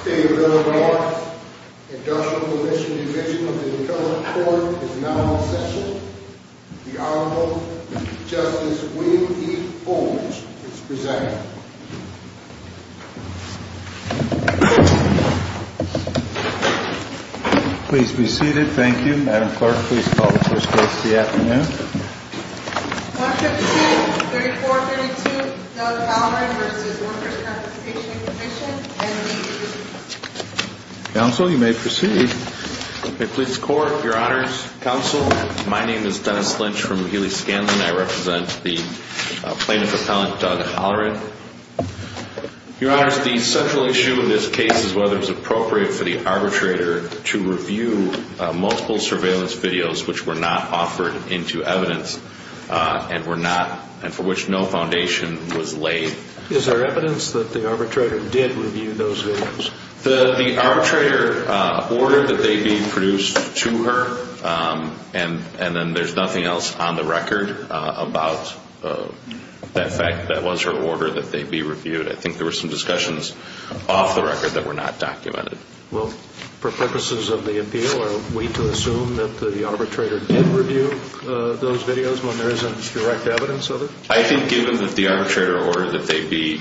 State of Illinois, Industrial Commission Division of the Intellect Court is now in session. The Honorable Justice William E. Bolling is presenting. Please be seated. Thank you. Madam Clerk, please call the first case of the afternoon. 152-3432, Doug Holleran v. Workers' Compensation Commission, MD Division. Counsel, you may proceed. May it please the Court, Your Honors, Counsel, my name is Dennis Lynch from Healy Skansen. I represent the Plaintiff Appellant, Doug Holleran. Your Honors, the central issue in this case is whether it was appropriate for the arbitrator to review multiple surveillance videos which were not offered into evidence and were not, and for which no foundation was laid. Is there evidence that the arbitrator did review those videos? The arbitrator ordered that they be produced to her, and then there's nothing else on the record about that fact that was her order that they be reviewed. I think there were some discussions off the record that were not documented. Well, for purposes of the appeal, are we to assume that the arbitrator did review those videos when there isn't direct evidence of it? I think given that the arbitrator ordered that they be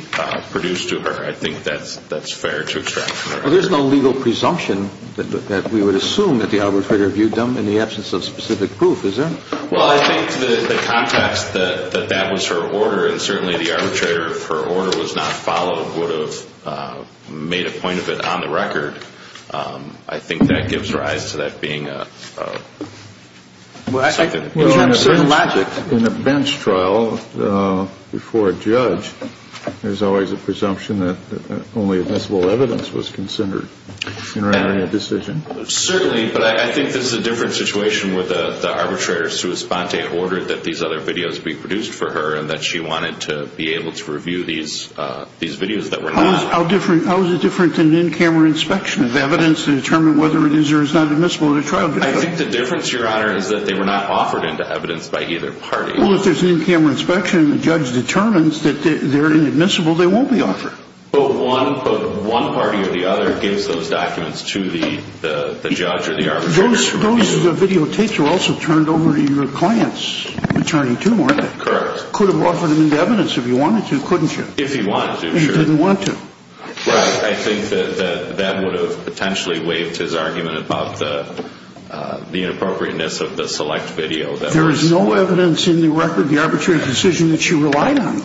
produced to her, I think that's fair to extract from the record. Well, there's no legal presumption that we would assume that the arbitrator reviewed them in the absence of specific proof, is there? Well, I think the context that that was her order, and certainly the arbitrator, if her order was not followed, would have made a point of it on the record. I think that gives rise to that being a... Well, in a bench trial before a judge, there's always a presumption that only admissible evidence was considered in a decision. Certainly, but I think this is a different situation where the arbitrator ordered that these other videos be produced for her and that she wanted to be able to review these videos that were not. How is it different than in-camera inspection of evidence to determine whether it is or is not admissible in a trial? I think the difference, Your Honor, is that they were not offered into evidence by either party. Well, if there's an in-camera inspection and the judge determines that they're inadmissible, they won't be offered. But one party or the other gives those documents to the judge or the arbitrator. Those videotapes were also turned over to your client's attorney, too, weren't they? Correct. Could have offered them into evidence if you wanted to, couldn't you? If he wanted to, sure. And he didn't want to. Right. I think that that would have potentially waived his argument about the inappropriateness of the select video. There is no evidence in the record, the arbitrary decision that she relied on.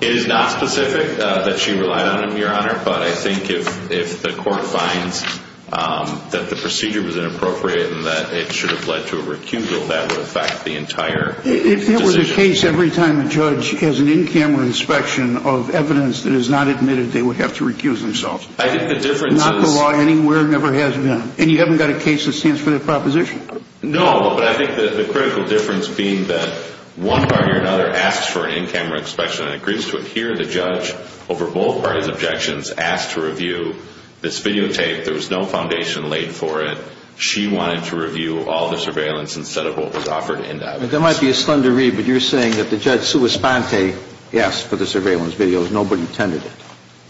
It is not specific that she relied on them, Your Honor, but I think if the court finds that the procedure was inappropriate and that it should have led to a recusal, that would affect the entire decision. If there was a case every time a judge has an in-camera inspection of evidence that is not admitted, they would have to recuse themselves. I think the difference is... Not the law anywhere never has been. And you haven't got a case that stands for that proposition. No, but I think the critical difference being that one party or another asks for an in-camera inspection and agrees to it. Here, the judge, over both parties' objections, asked to review this videotape. There was no foundation laid for it. She wanted to review all the surveillance instead of what was offered into evidence. There might be a slender read, but you're saying that the judge, Sue Esponte, asked for the surveillance videos. Nobody tended it.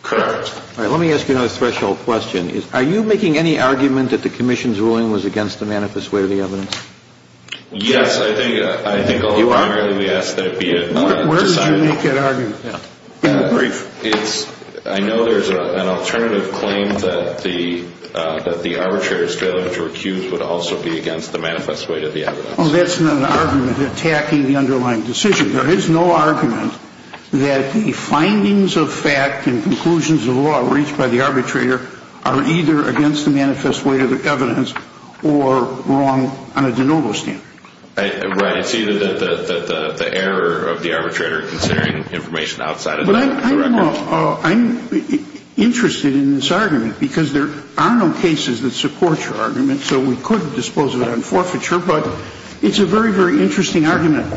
Correct. All right, let me ask you another threshold question. Are you making any argument that the commission's ruling was against the manifest weight of the evidence? Yes, I think... You are? I think, ultimately, we ask that it be decided. Where did you make that argument? In the brief. I know there's an alternative claim that the arbitrator's failure to recuse would also be against the manifest weight of the evidence. Well, that's not an argument attacking the underlying decision. There is no argument that the findings of fact and conclusions of law reached by the arbitrator are either against the manifest weight of the evidence or wrong on a de novo standard. Right. It's either the error of the arbitrator considering information outside of the record. I'm interested in this argument because there are no cases that support your argument, so we could dispose of it on forfeiture, but it's a very, very interesting argument.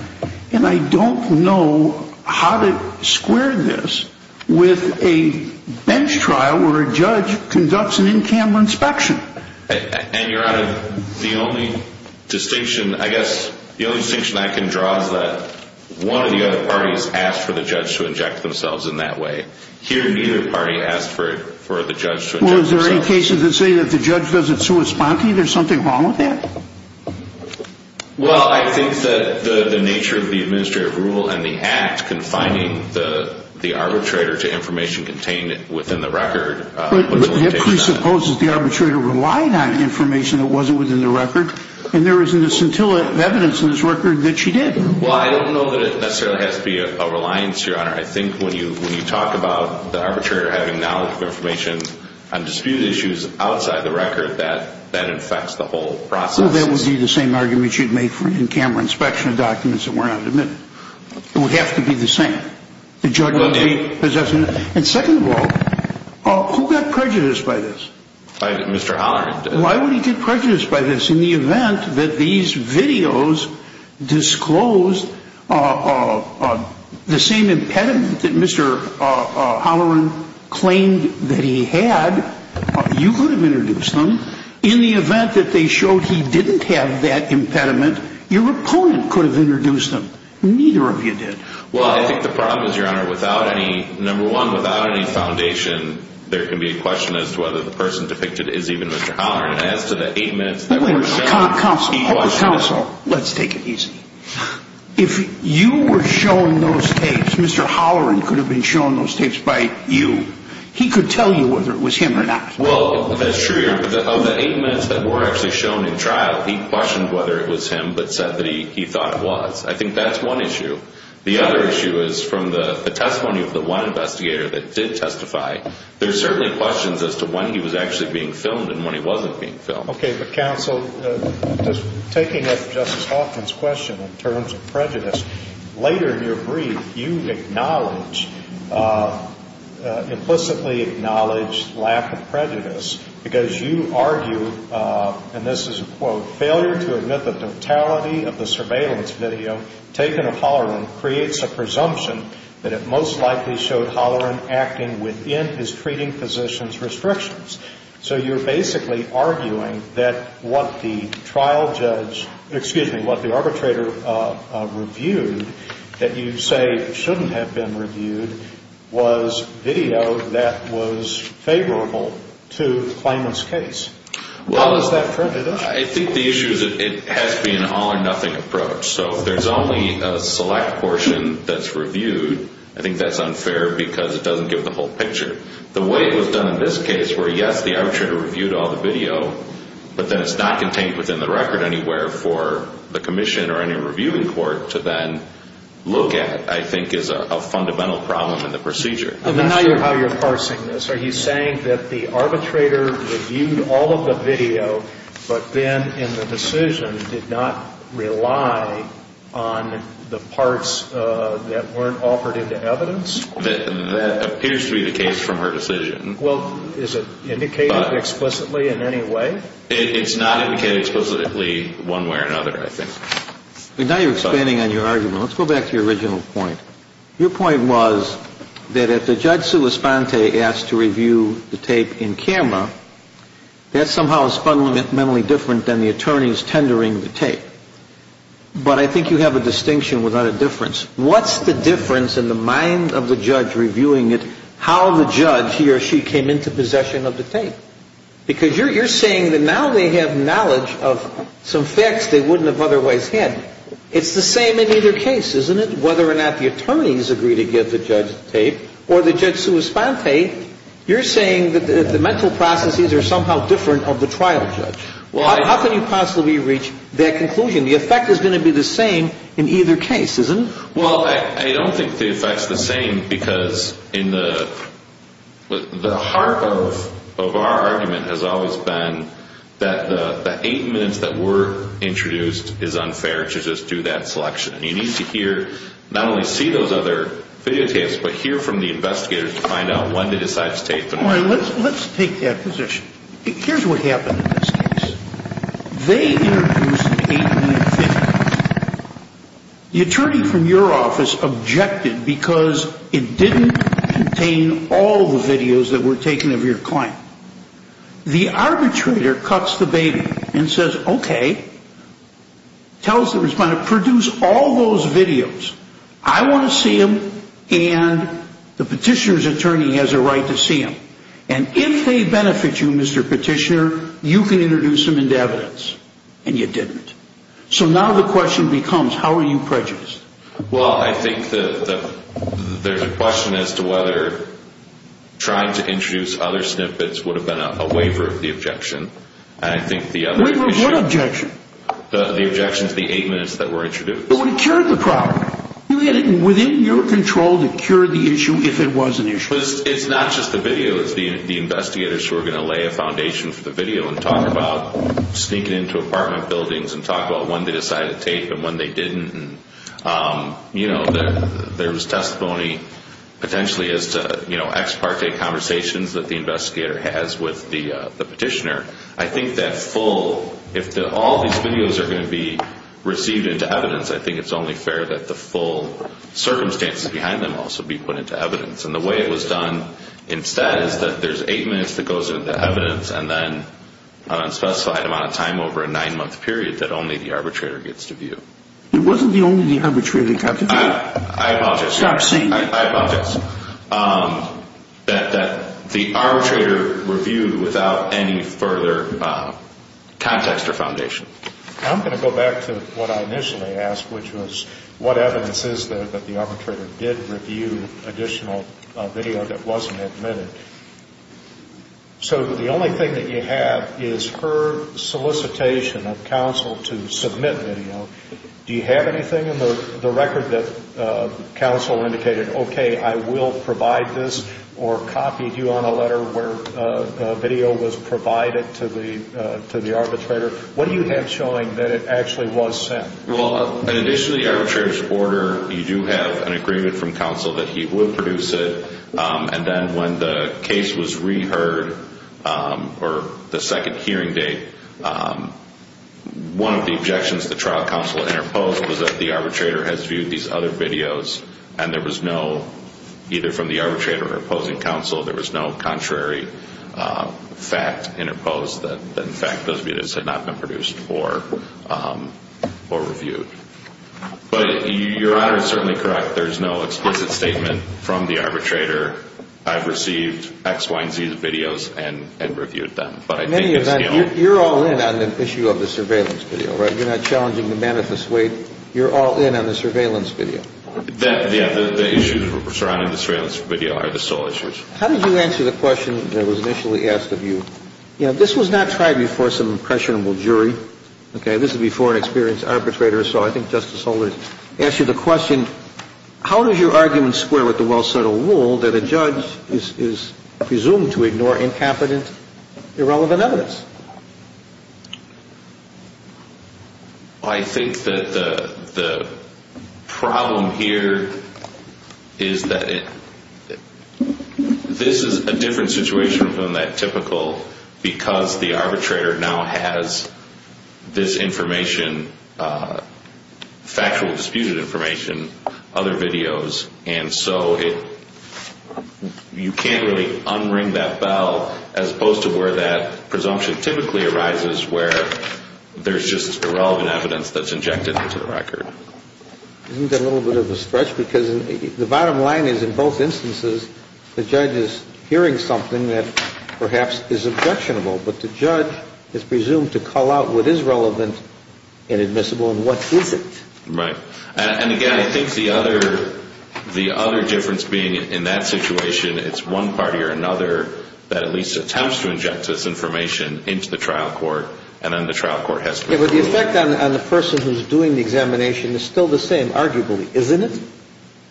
And I don't know how to square this with a bench trial where a judge conducts an in-camera inspection. And you're out of the only distinction, I guess, the only distinction I can draw is that one of the other parties asked for the judge to inject themselves in that way. Here, neither party asked for the judge to inject themselves. Well, is there any cases that say that the judge doesn't correspond to you? There's something wrong with that? Well, I think that the nature of the administrative rule and the act confining the arbitrator to information contained within the record... That presupposes the arbitrator relied on information that wasn't within the record, and there isn't a scintilla of evidence in this record that she did. Well, I don't know that it necessarily has to be a reliance, Your Honor. I think when you talk about the arbitrator having knowledge of information on disputed issues outside the record, that that infects the whole process. Well, that would be the same argument you'd make for an in-camera inspection of documents that were not admitted. It would have to be the same. And second of all, who got prejudiced by this? Mr. Halloran did. Why would he get prejudiced by this in the event that these videos disclosed the same impediment that Mr. Halloran claimed that he had? You could have introduced them. In the event that they showed he didn't have that impediment, your opponent could have introduced them. Neither of you did. Well, I think the problem is, Your Honor, number one, without any foundation, there can be a question as to whether the person depicted is even Mr. Halloran. And as to the eight minutes that were shown... Counsel, let's take it easy. If you were shown those tapes, Mr. Halloran could have been shown those tapes by you. He could tell you whether it was him or not. Well, that's true, Your Honor. Of the eight minutes that were actually shown in trial, he questioned whether it was him but said that he thought it was. I think that's one issue. The other issue is from the testimony of the one investigator that did testify, there's certainly questions as to when he was actually being filmed and when he wasn't being filmed. Okay. But, Counsel, taking up Justice Hoffman's question in terms of prejudice, later in your brief, you acknowledge, implicitly acknowledge lack of prejudice because you argue, and this is a quote, failure to admit the totality of the surveillance video taken of Halloran creates a presumption that it most likely showed Halloran acting within his treating physician's restrictions. So you're basically arguing that what the trial judge, excuse me, what the arbitrator reviewed that you say shouldn't have been reviewed was video that was favorable to the claimant's case. How is that prejudice? I think the issue is that it has to be an all or nothing approach. So if there's only a select portion that's reviewed, I think that's unfair because it doesn't give the whole picture. The way it was done in this case where, yes, the arbitrator reviewed all the video, but then it's not contained within the record anywhere for the commission or any reviewing court to then look at, I think, is a fundamental problem in the procedure. I'm not sure how you're parsing this. Are you saying that the arbitrator reviewed all of the video but then in the decision did not rely on the parts that weren't offered into evidence? That appears to be the case from her decision. Well, is it indicated explicitly in any way? It's not indicated explicitly one way or another, I think. Now you're expanding on your argument. Let's go back to your original point. Your point was that if the judge sui sponte asked to review the tape in camera, that somehow is fundamentally different than the attorneys tendering the tape. But I think you have a distinction without a difference. What's the difference in the mind of the judge reviewing it, how the judge, he or she, came into possession of the tape? Because you're saying that now they have knowledge of some facts they wouldn't have otherwise had. It's the same in either case, isn't it? Whether or not the attorneys agree to give the judge the tape or the judge sui sponte, you're saying that the mental processes are somehow different of the trial judge. How can you possibly reach that conclusion? The effect is going to be the same in either case, isn't it? Well, I don't think the effect is the same because in the heart of our argument has always been that the eight minutes that were introduced is unfair to just do that selection. You need to hear, not only see those other videotapes, but hear from the investigators to find out when they decided to tape them. Let's take that position. Here's what happened in this case. They introduced the eight minute tape. The attorney from your office objected because it didn't contain all the videos that were taken of your client. The arbitrator cuts the baby and says, okay. Tells the respondent, produce all those videos. I want to see them and the petitioner's attorney has a right to see them. And if they benefit you, Mr. Petitioner, you can introduce them into evidence. And you didn't. So now the question becomes, how are you prejudiced? Well, I think there's a question as to whether trying to introduce other snippets would have been a waiver of the objection. Waiver of what objection? The objection to the eight minutes that were introduced. It would have cured the problem. You had it within your control to cure the issue if it was an issue. It's not just the video. It's the investigators who are going to lay a foundation for the video and talk about sneaking into apartment buildings and talk about when they decided to tape and when they didn't. You know, there was testimony potentially as to ex parte conversations that the investigator has with the petitioner. I think that full, if all these videos are going to be received into evidence, I think it's only fair that the full circumstances behind them also be put into evidence. And the way it was done instead is that there's eight minutes that goes into evidence and then an unspecified amount of time over a nine-month period that only the arbitrator gets to view. It wasn't only the arbitrator that got to view. I apologize. Stop saying that. I apologize. That the arbitrator reviewed without any further context or foundation. I'm going to go back to what I initially asked, which was what evidence is there that the arbitrator did review additional video that wasn't admitted. So the only thing that you have is her solicitation of counsel to submit video. Do you have anything in the record that counsel indicated, okay, I will provide this or copied you on a letter where video was provided to the arbitrator? What do you have showing that it actually was sent? Well, in addition to the arbitrator's order, you do have an agreement from counsel that he will produce it. And then when the case was reheard or the second hearing date, one of the objections the trial counsel interposed was that the arbitrator has viewed these other videos and there was no, either from the arbitrator or opposing counsel, there was no contrary fact interposed that, in fact, those videos had not been produced or reviewed. But Your Honor is certainly correct. There is no explicit statement from the arbitrator. I've received X, Y, and Z's videos and reviewed them. But I think it's still. You're all in on the issue of the surveillance video, right? You're not challenging the manifest weight. You're all in on the surveillance video. The issues surrounding the surveillance video are the sole issues. How did you answer the question that was initially asked of you? You know, this was not tried before some impressionable jury. Okay? This is before an experienced arbitrator. So I think Justice Holder asked you the question, how does your argument square with the well-settled rule that a judge is presumed to ignore incompetent, irrelevant evidence? I think that the problem here is that this is a different situation from that typical because the arbitrator now has this information, factual disputed information, other videos. And so you can't really unring that bell as opposed to where that presumption typically arises where there's just irrelevant evidence that's injected into the record. Isn't that a little bit of a stretch? Because the bottom line is in both instances the judge is hearing something that perhaps is objectionable. But the judge is presumed to call out what is relevant and admissible and what isn't. Right. And, again, I think the other difference being in that situation it's one party or another that at least attempts to inject this information into the trial court and then the trial court has to remove it. Yeah, but the effect on the person who's doing the examination is still the same, arguably, isn't it?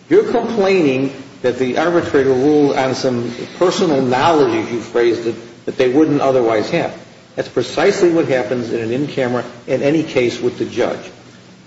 You're complaining that the arbitrator ruled on some personal knowledge, if you phrased it, that they wouldn't otherwise have. That's precisely what happens in an in-camera, in any case, with the judge.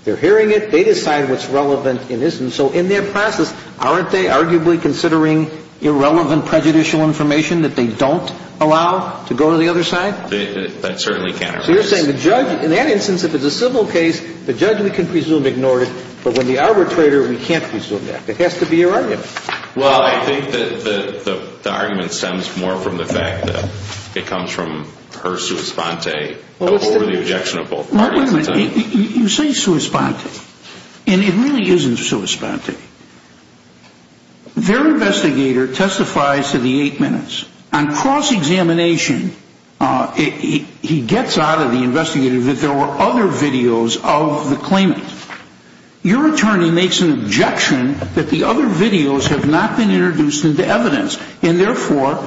They're hearing it. They decide what's relevant and isn't. So in that process aren't they arguably considering irrelevant prejudicial information that they don't allow to go to the other side? That certainly can't occur. So you're saying the judge, in that instance, if it's a civil case, the judge, we can presume, ignored it. But when the arbitrator, we can't presume that. It has to be your argument. Well, I think that the argument stems more from the fact that it comes from her sua sponte, over the objection of both parties. Mark, wait a minute. You say sua sponte, and it really isn't sua sponte. Their investigator testifies to the eight minutes. On cross-examination, he gets out of the investigator that there were other videos of the claimant. Your attorney makes an objection that the other videos have not been introduced into evidence, and therefore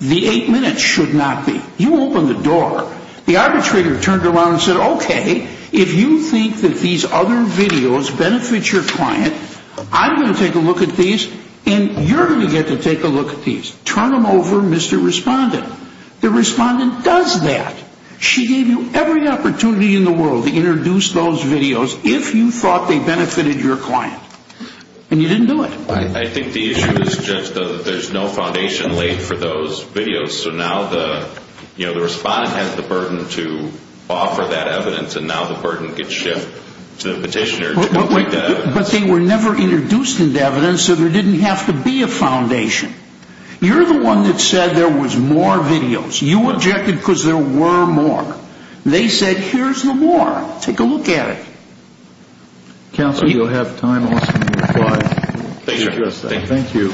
the eight minutes should not be. You open the door. The arbitrator turned around and said, okay, if you think that these other videos benefit your client, I'm going to take a look at these, and you're going to get to take a look at these. Turn them over, Mr. Respondent. The respondent does that. She gave you every opportunity in the world to introduce those videos if you thought they benefited your client. And you didn't do it. I think the issue is just that there's no foundation laid for those videos. So now the respondent has the burden to offer that evidence, and now the burden can shift to the petitioner. But they were never introduced into evidence, so there didn't have to be a foundation. You're the one that said there was more videos. You objected because there were more. They said here's the more. Take a look at it. Counsel, you'll have time also to reply. Thank you.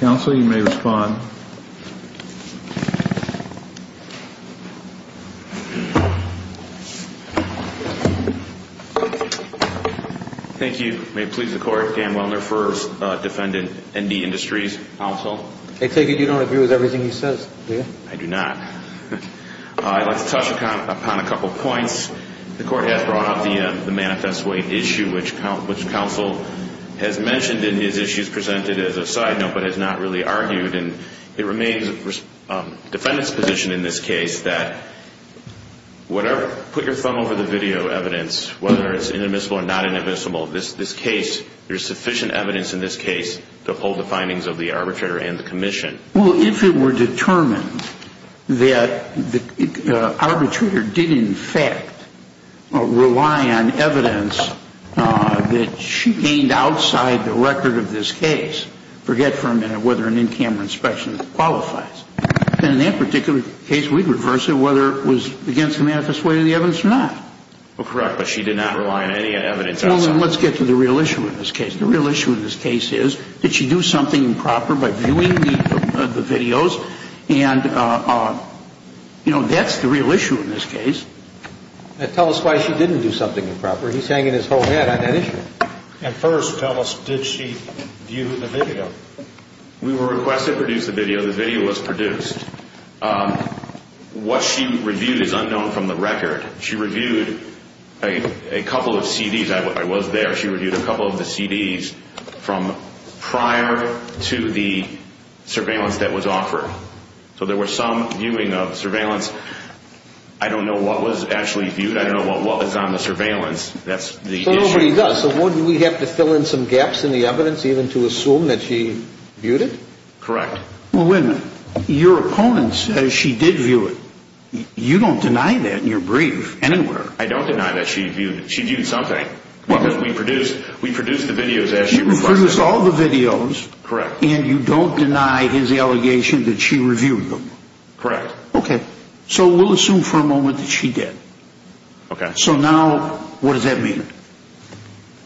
Counsel, you may respond. Thank you. May it please the Court, Dan Wellner for defendant, ND Industries. Counsel? I take it you don't agree with everything he says, do you? I do not. I'd like to touch upon a couple points. The Court has brought up the manifest way issue, which Counsel has mentioned in his issues presented as a side note, but has not really argued. And it remains the defendant's position in this case that whatever, put your thumb over the video evidence, whether it's inadmissible or not inadmissible, this case, there's sufficient evidence in this case to hold the findings of the arbitrator and the commission. Well, if it were determined that the arbitrator did in fact rely on evidence that she gained outside the record of this case, forget for a minute whether an in-camera inspection qualifies, then in that particular case we'd reverse it whether it was against the manifest way of the evidence or not. Well, correct, but she did not rely on any evidence outside. Well, then let's get to the real issue in this case. The real issue in this case is did she do something improper by viewing the videos? And, you know, that's the real issue in this case. Tell us why she didn't do something improper. He's hanging his whole head on that issue. And first, tell us, did she view the video? We were requested to produce the video. The video was produced. What she reviewed is unknown from the record. She reviewed a couple of CDs. I was there. She reviewed a couple of the CDs from prior to the surveillance that was offered. So there was some viewing of surveillance. I don't know what was actually viewed. I don't know what was on the surveillance. That's the issue. So nobody does. So wouldn't we have to fill in some gaps in the evidence even to assume that she viewed it? Correct. Well, wait a minute. Your opponents, she did view it. You don't deny that in your brief anywhere. I don't deny that she viewed it. She viewed something. Because we produced the videos as she requested. You produced all the videos. Correct. And you don't deny his allegation that she reviewed them. Correct. Okay. So we'll assume for a moment that she did. Okay. So now what does that mean?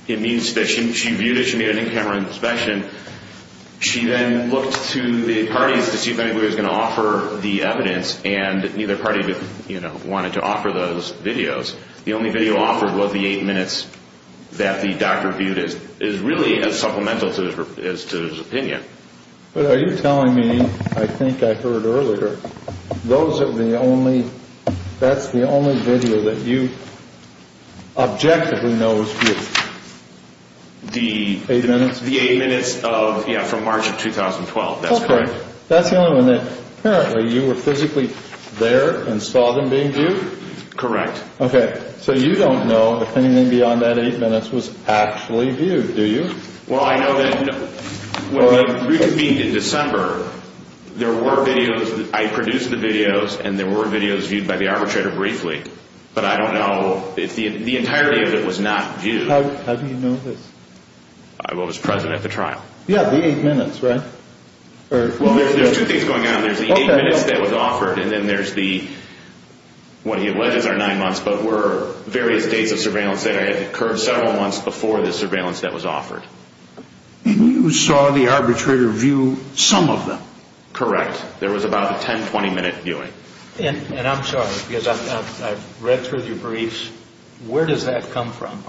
It means that she viewed it. She made an in-camera inspection. She then looked to the parties to see if anybody was going to offer the evidence, and neither party wanted to offer those videos. The only video offered was the eight minutes that the doctor viewed. It is really as supplemental to his opinion. But are you telling me, I think I heard earlier, that's the only video that you objectively know was viewed? The eight minutes? The eight minutes from March of 2012. That's correct. Okay. That's the only one that apparently you were physically there and saw them being viewed? Correct. Okay. So you don't know if anything beyond that eight minutes was actually viewed, do you? Well, I know that when we convened in December, there were videos. I produced the videos, and there were videos viewed by the arbitrator briefly. But I don't know if the entirety of it was not viewed. How do you know this? I was present at the trial. Yeah, the eight minutes, right? Well, there's two things going on. There's the eight minutes that was offered, and then there's the, what he alleges are nine months, but were various days of surveillance that had occurred several months before the surveillance that was offered. And you saw the arbitrator view some of them? Correct. There was about a 10, 20-minute viewing. And I'm sorry, because I've read through your briefs. Where does that come from?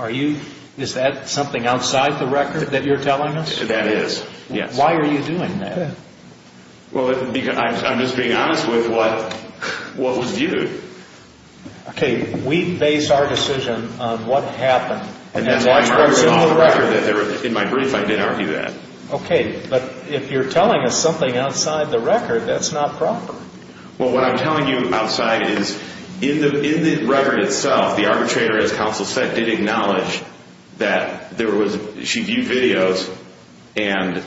Is that something outside the record that you're telling us? That is, yes. Why are you doing that? Well, I'm just being honest with what was viewed. Okay, we base our decision on what happened. And that's why I'm arguing off the record that there was, in my brief, I didn't argue that. Okay, but if you're telling us something outside the record, that's not proper. Well, what I'm telling you outside is in the record itself, the arbitrator, as counsel said, did acknowledge that there was, she viewed videos and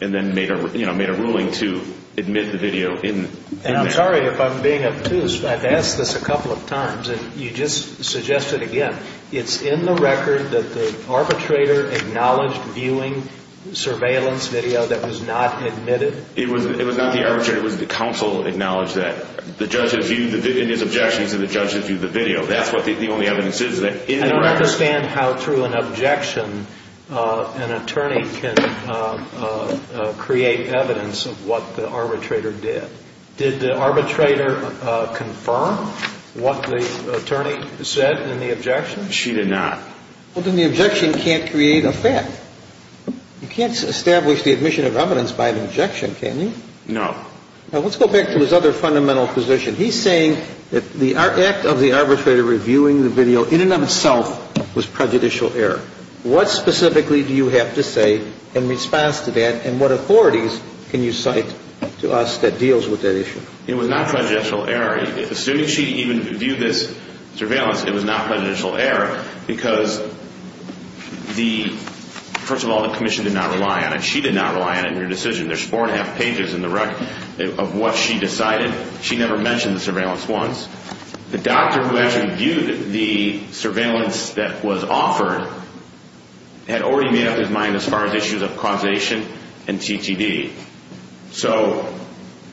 then made a ruling to admit the video in the record. And I'm sorry if I'm being obtuse. I've asked this a couple of times, and you just suggest it again. It's in the record that the arbitrator acknowledged viewing surveillance video that was not admitted? It was not the arbitrator. It was the counsel that acknowledged that. The judge had viewed the video. His objection is that the judge had viewed the video. That's what the only evidence is. I don't understand how, through an objection, an attorney can create evidence of what the arbitrator did. Did the arbitrator confirm what the attorney said in the objection? She did not. Well, then the objection can't create a fact. You can't establish the admission of evidence by an objection, can you? No. Now, let's go back to his other fundamental position. He's saying that the act of the arbitrator reviewing the video in and of itself was prejudicial error. What specifically do you have to say in response to that, and what authorities can you cite to us that deals with that issue? It was not prejudicial error. Assuming she even viewed this surveillance, it was not prejudicial error because the, first of all, the commission did not rely on it. She did not rely on it in her decision. There's four and a half pages in the record of what she decided. She never mentioned the surveillance once. The doctor who actually viewed the surveillance that was offered had already made up his mind as far as issues of causation and TTD. So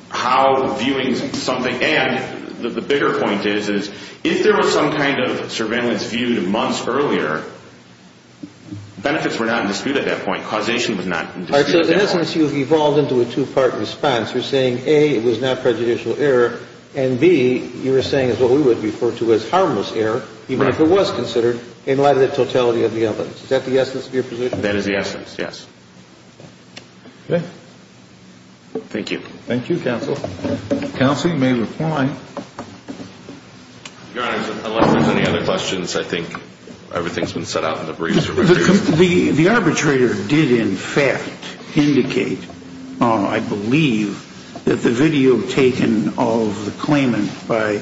how viewing something, and the bigger point is, is if there was some kind of surveillance viewed months earlier, benefits were not in dispute at that point. Causation was not in dispute at that point. In essence, you've evolved into a two-part response. You're saying, A, it was not prejudicial error, and, B, you were saying is what we would refer to as harmless error, even if it was considered, in light of the totality of the evidence. Is that the essence of your position? That is the essence, yes. Okay. Thank you. Thank you, counsel. Counsel, you may reply. Your Honor, unless there's any other questions, I think everything's been set out in the briefs. The arbitrator did, in fact, indicate, I believe, that the video taken of the claimant by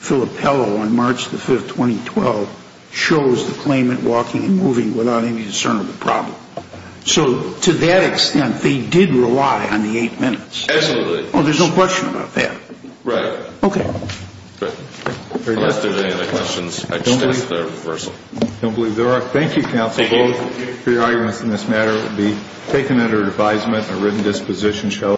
Filippello on March the 5th, 2012, shows the claimant walking and moving without any discernible problem. So to that extent, they did rely on the eight minutes. Absolutely. Oh, there's no question about that. Right. Okay. Great. Unless there's any other questions, I just ask for a reversal. I don't believe there are. Thank you, counsel, both, for your arguments in this matter. It will be taken under advisement and a written disposition shall apply.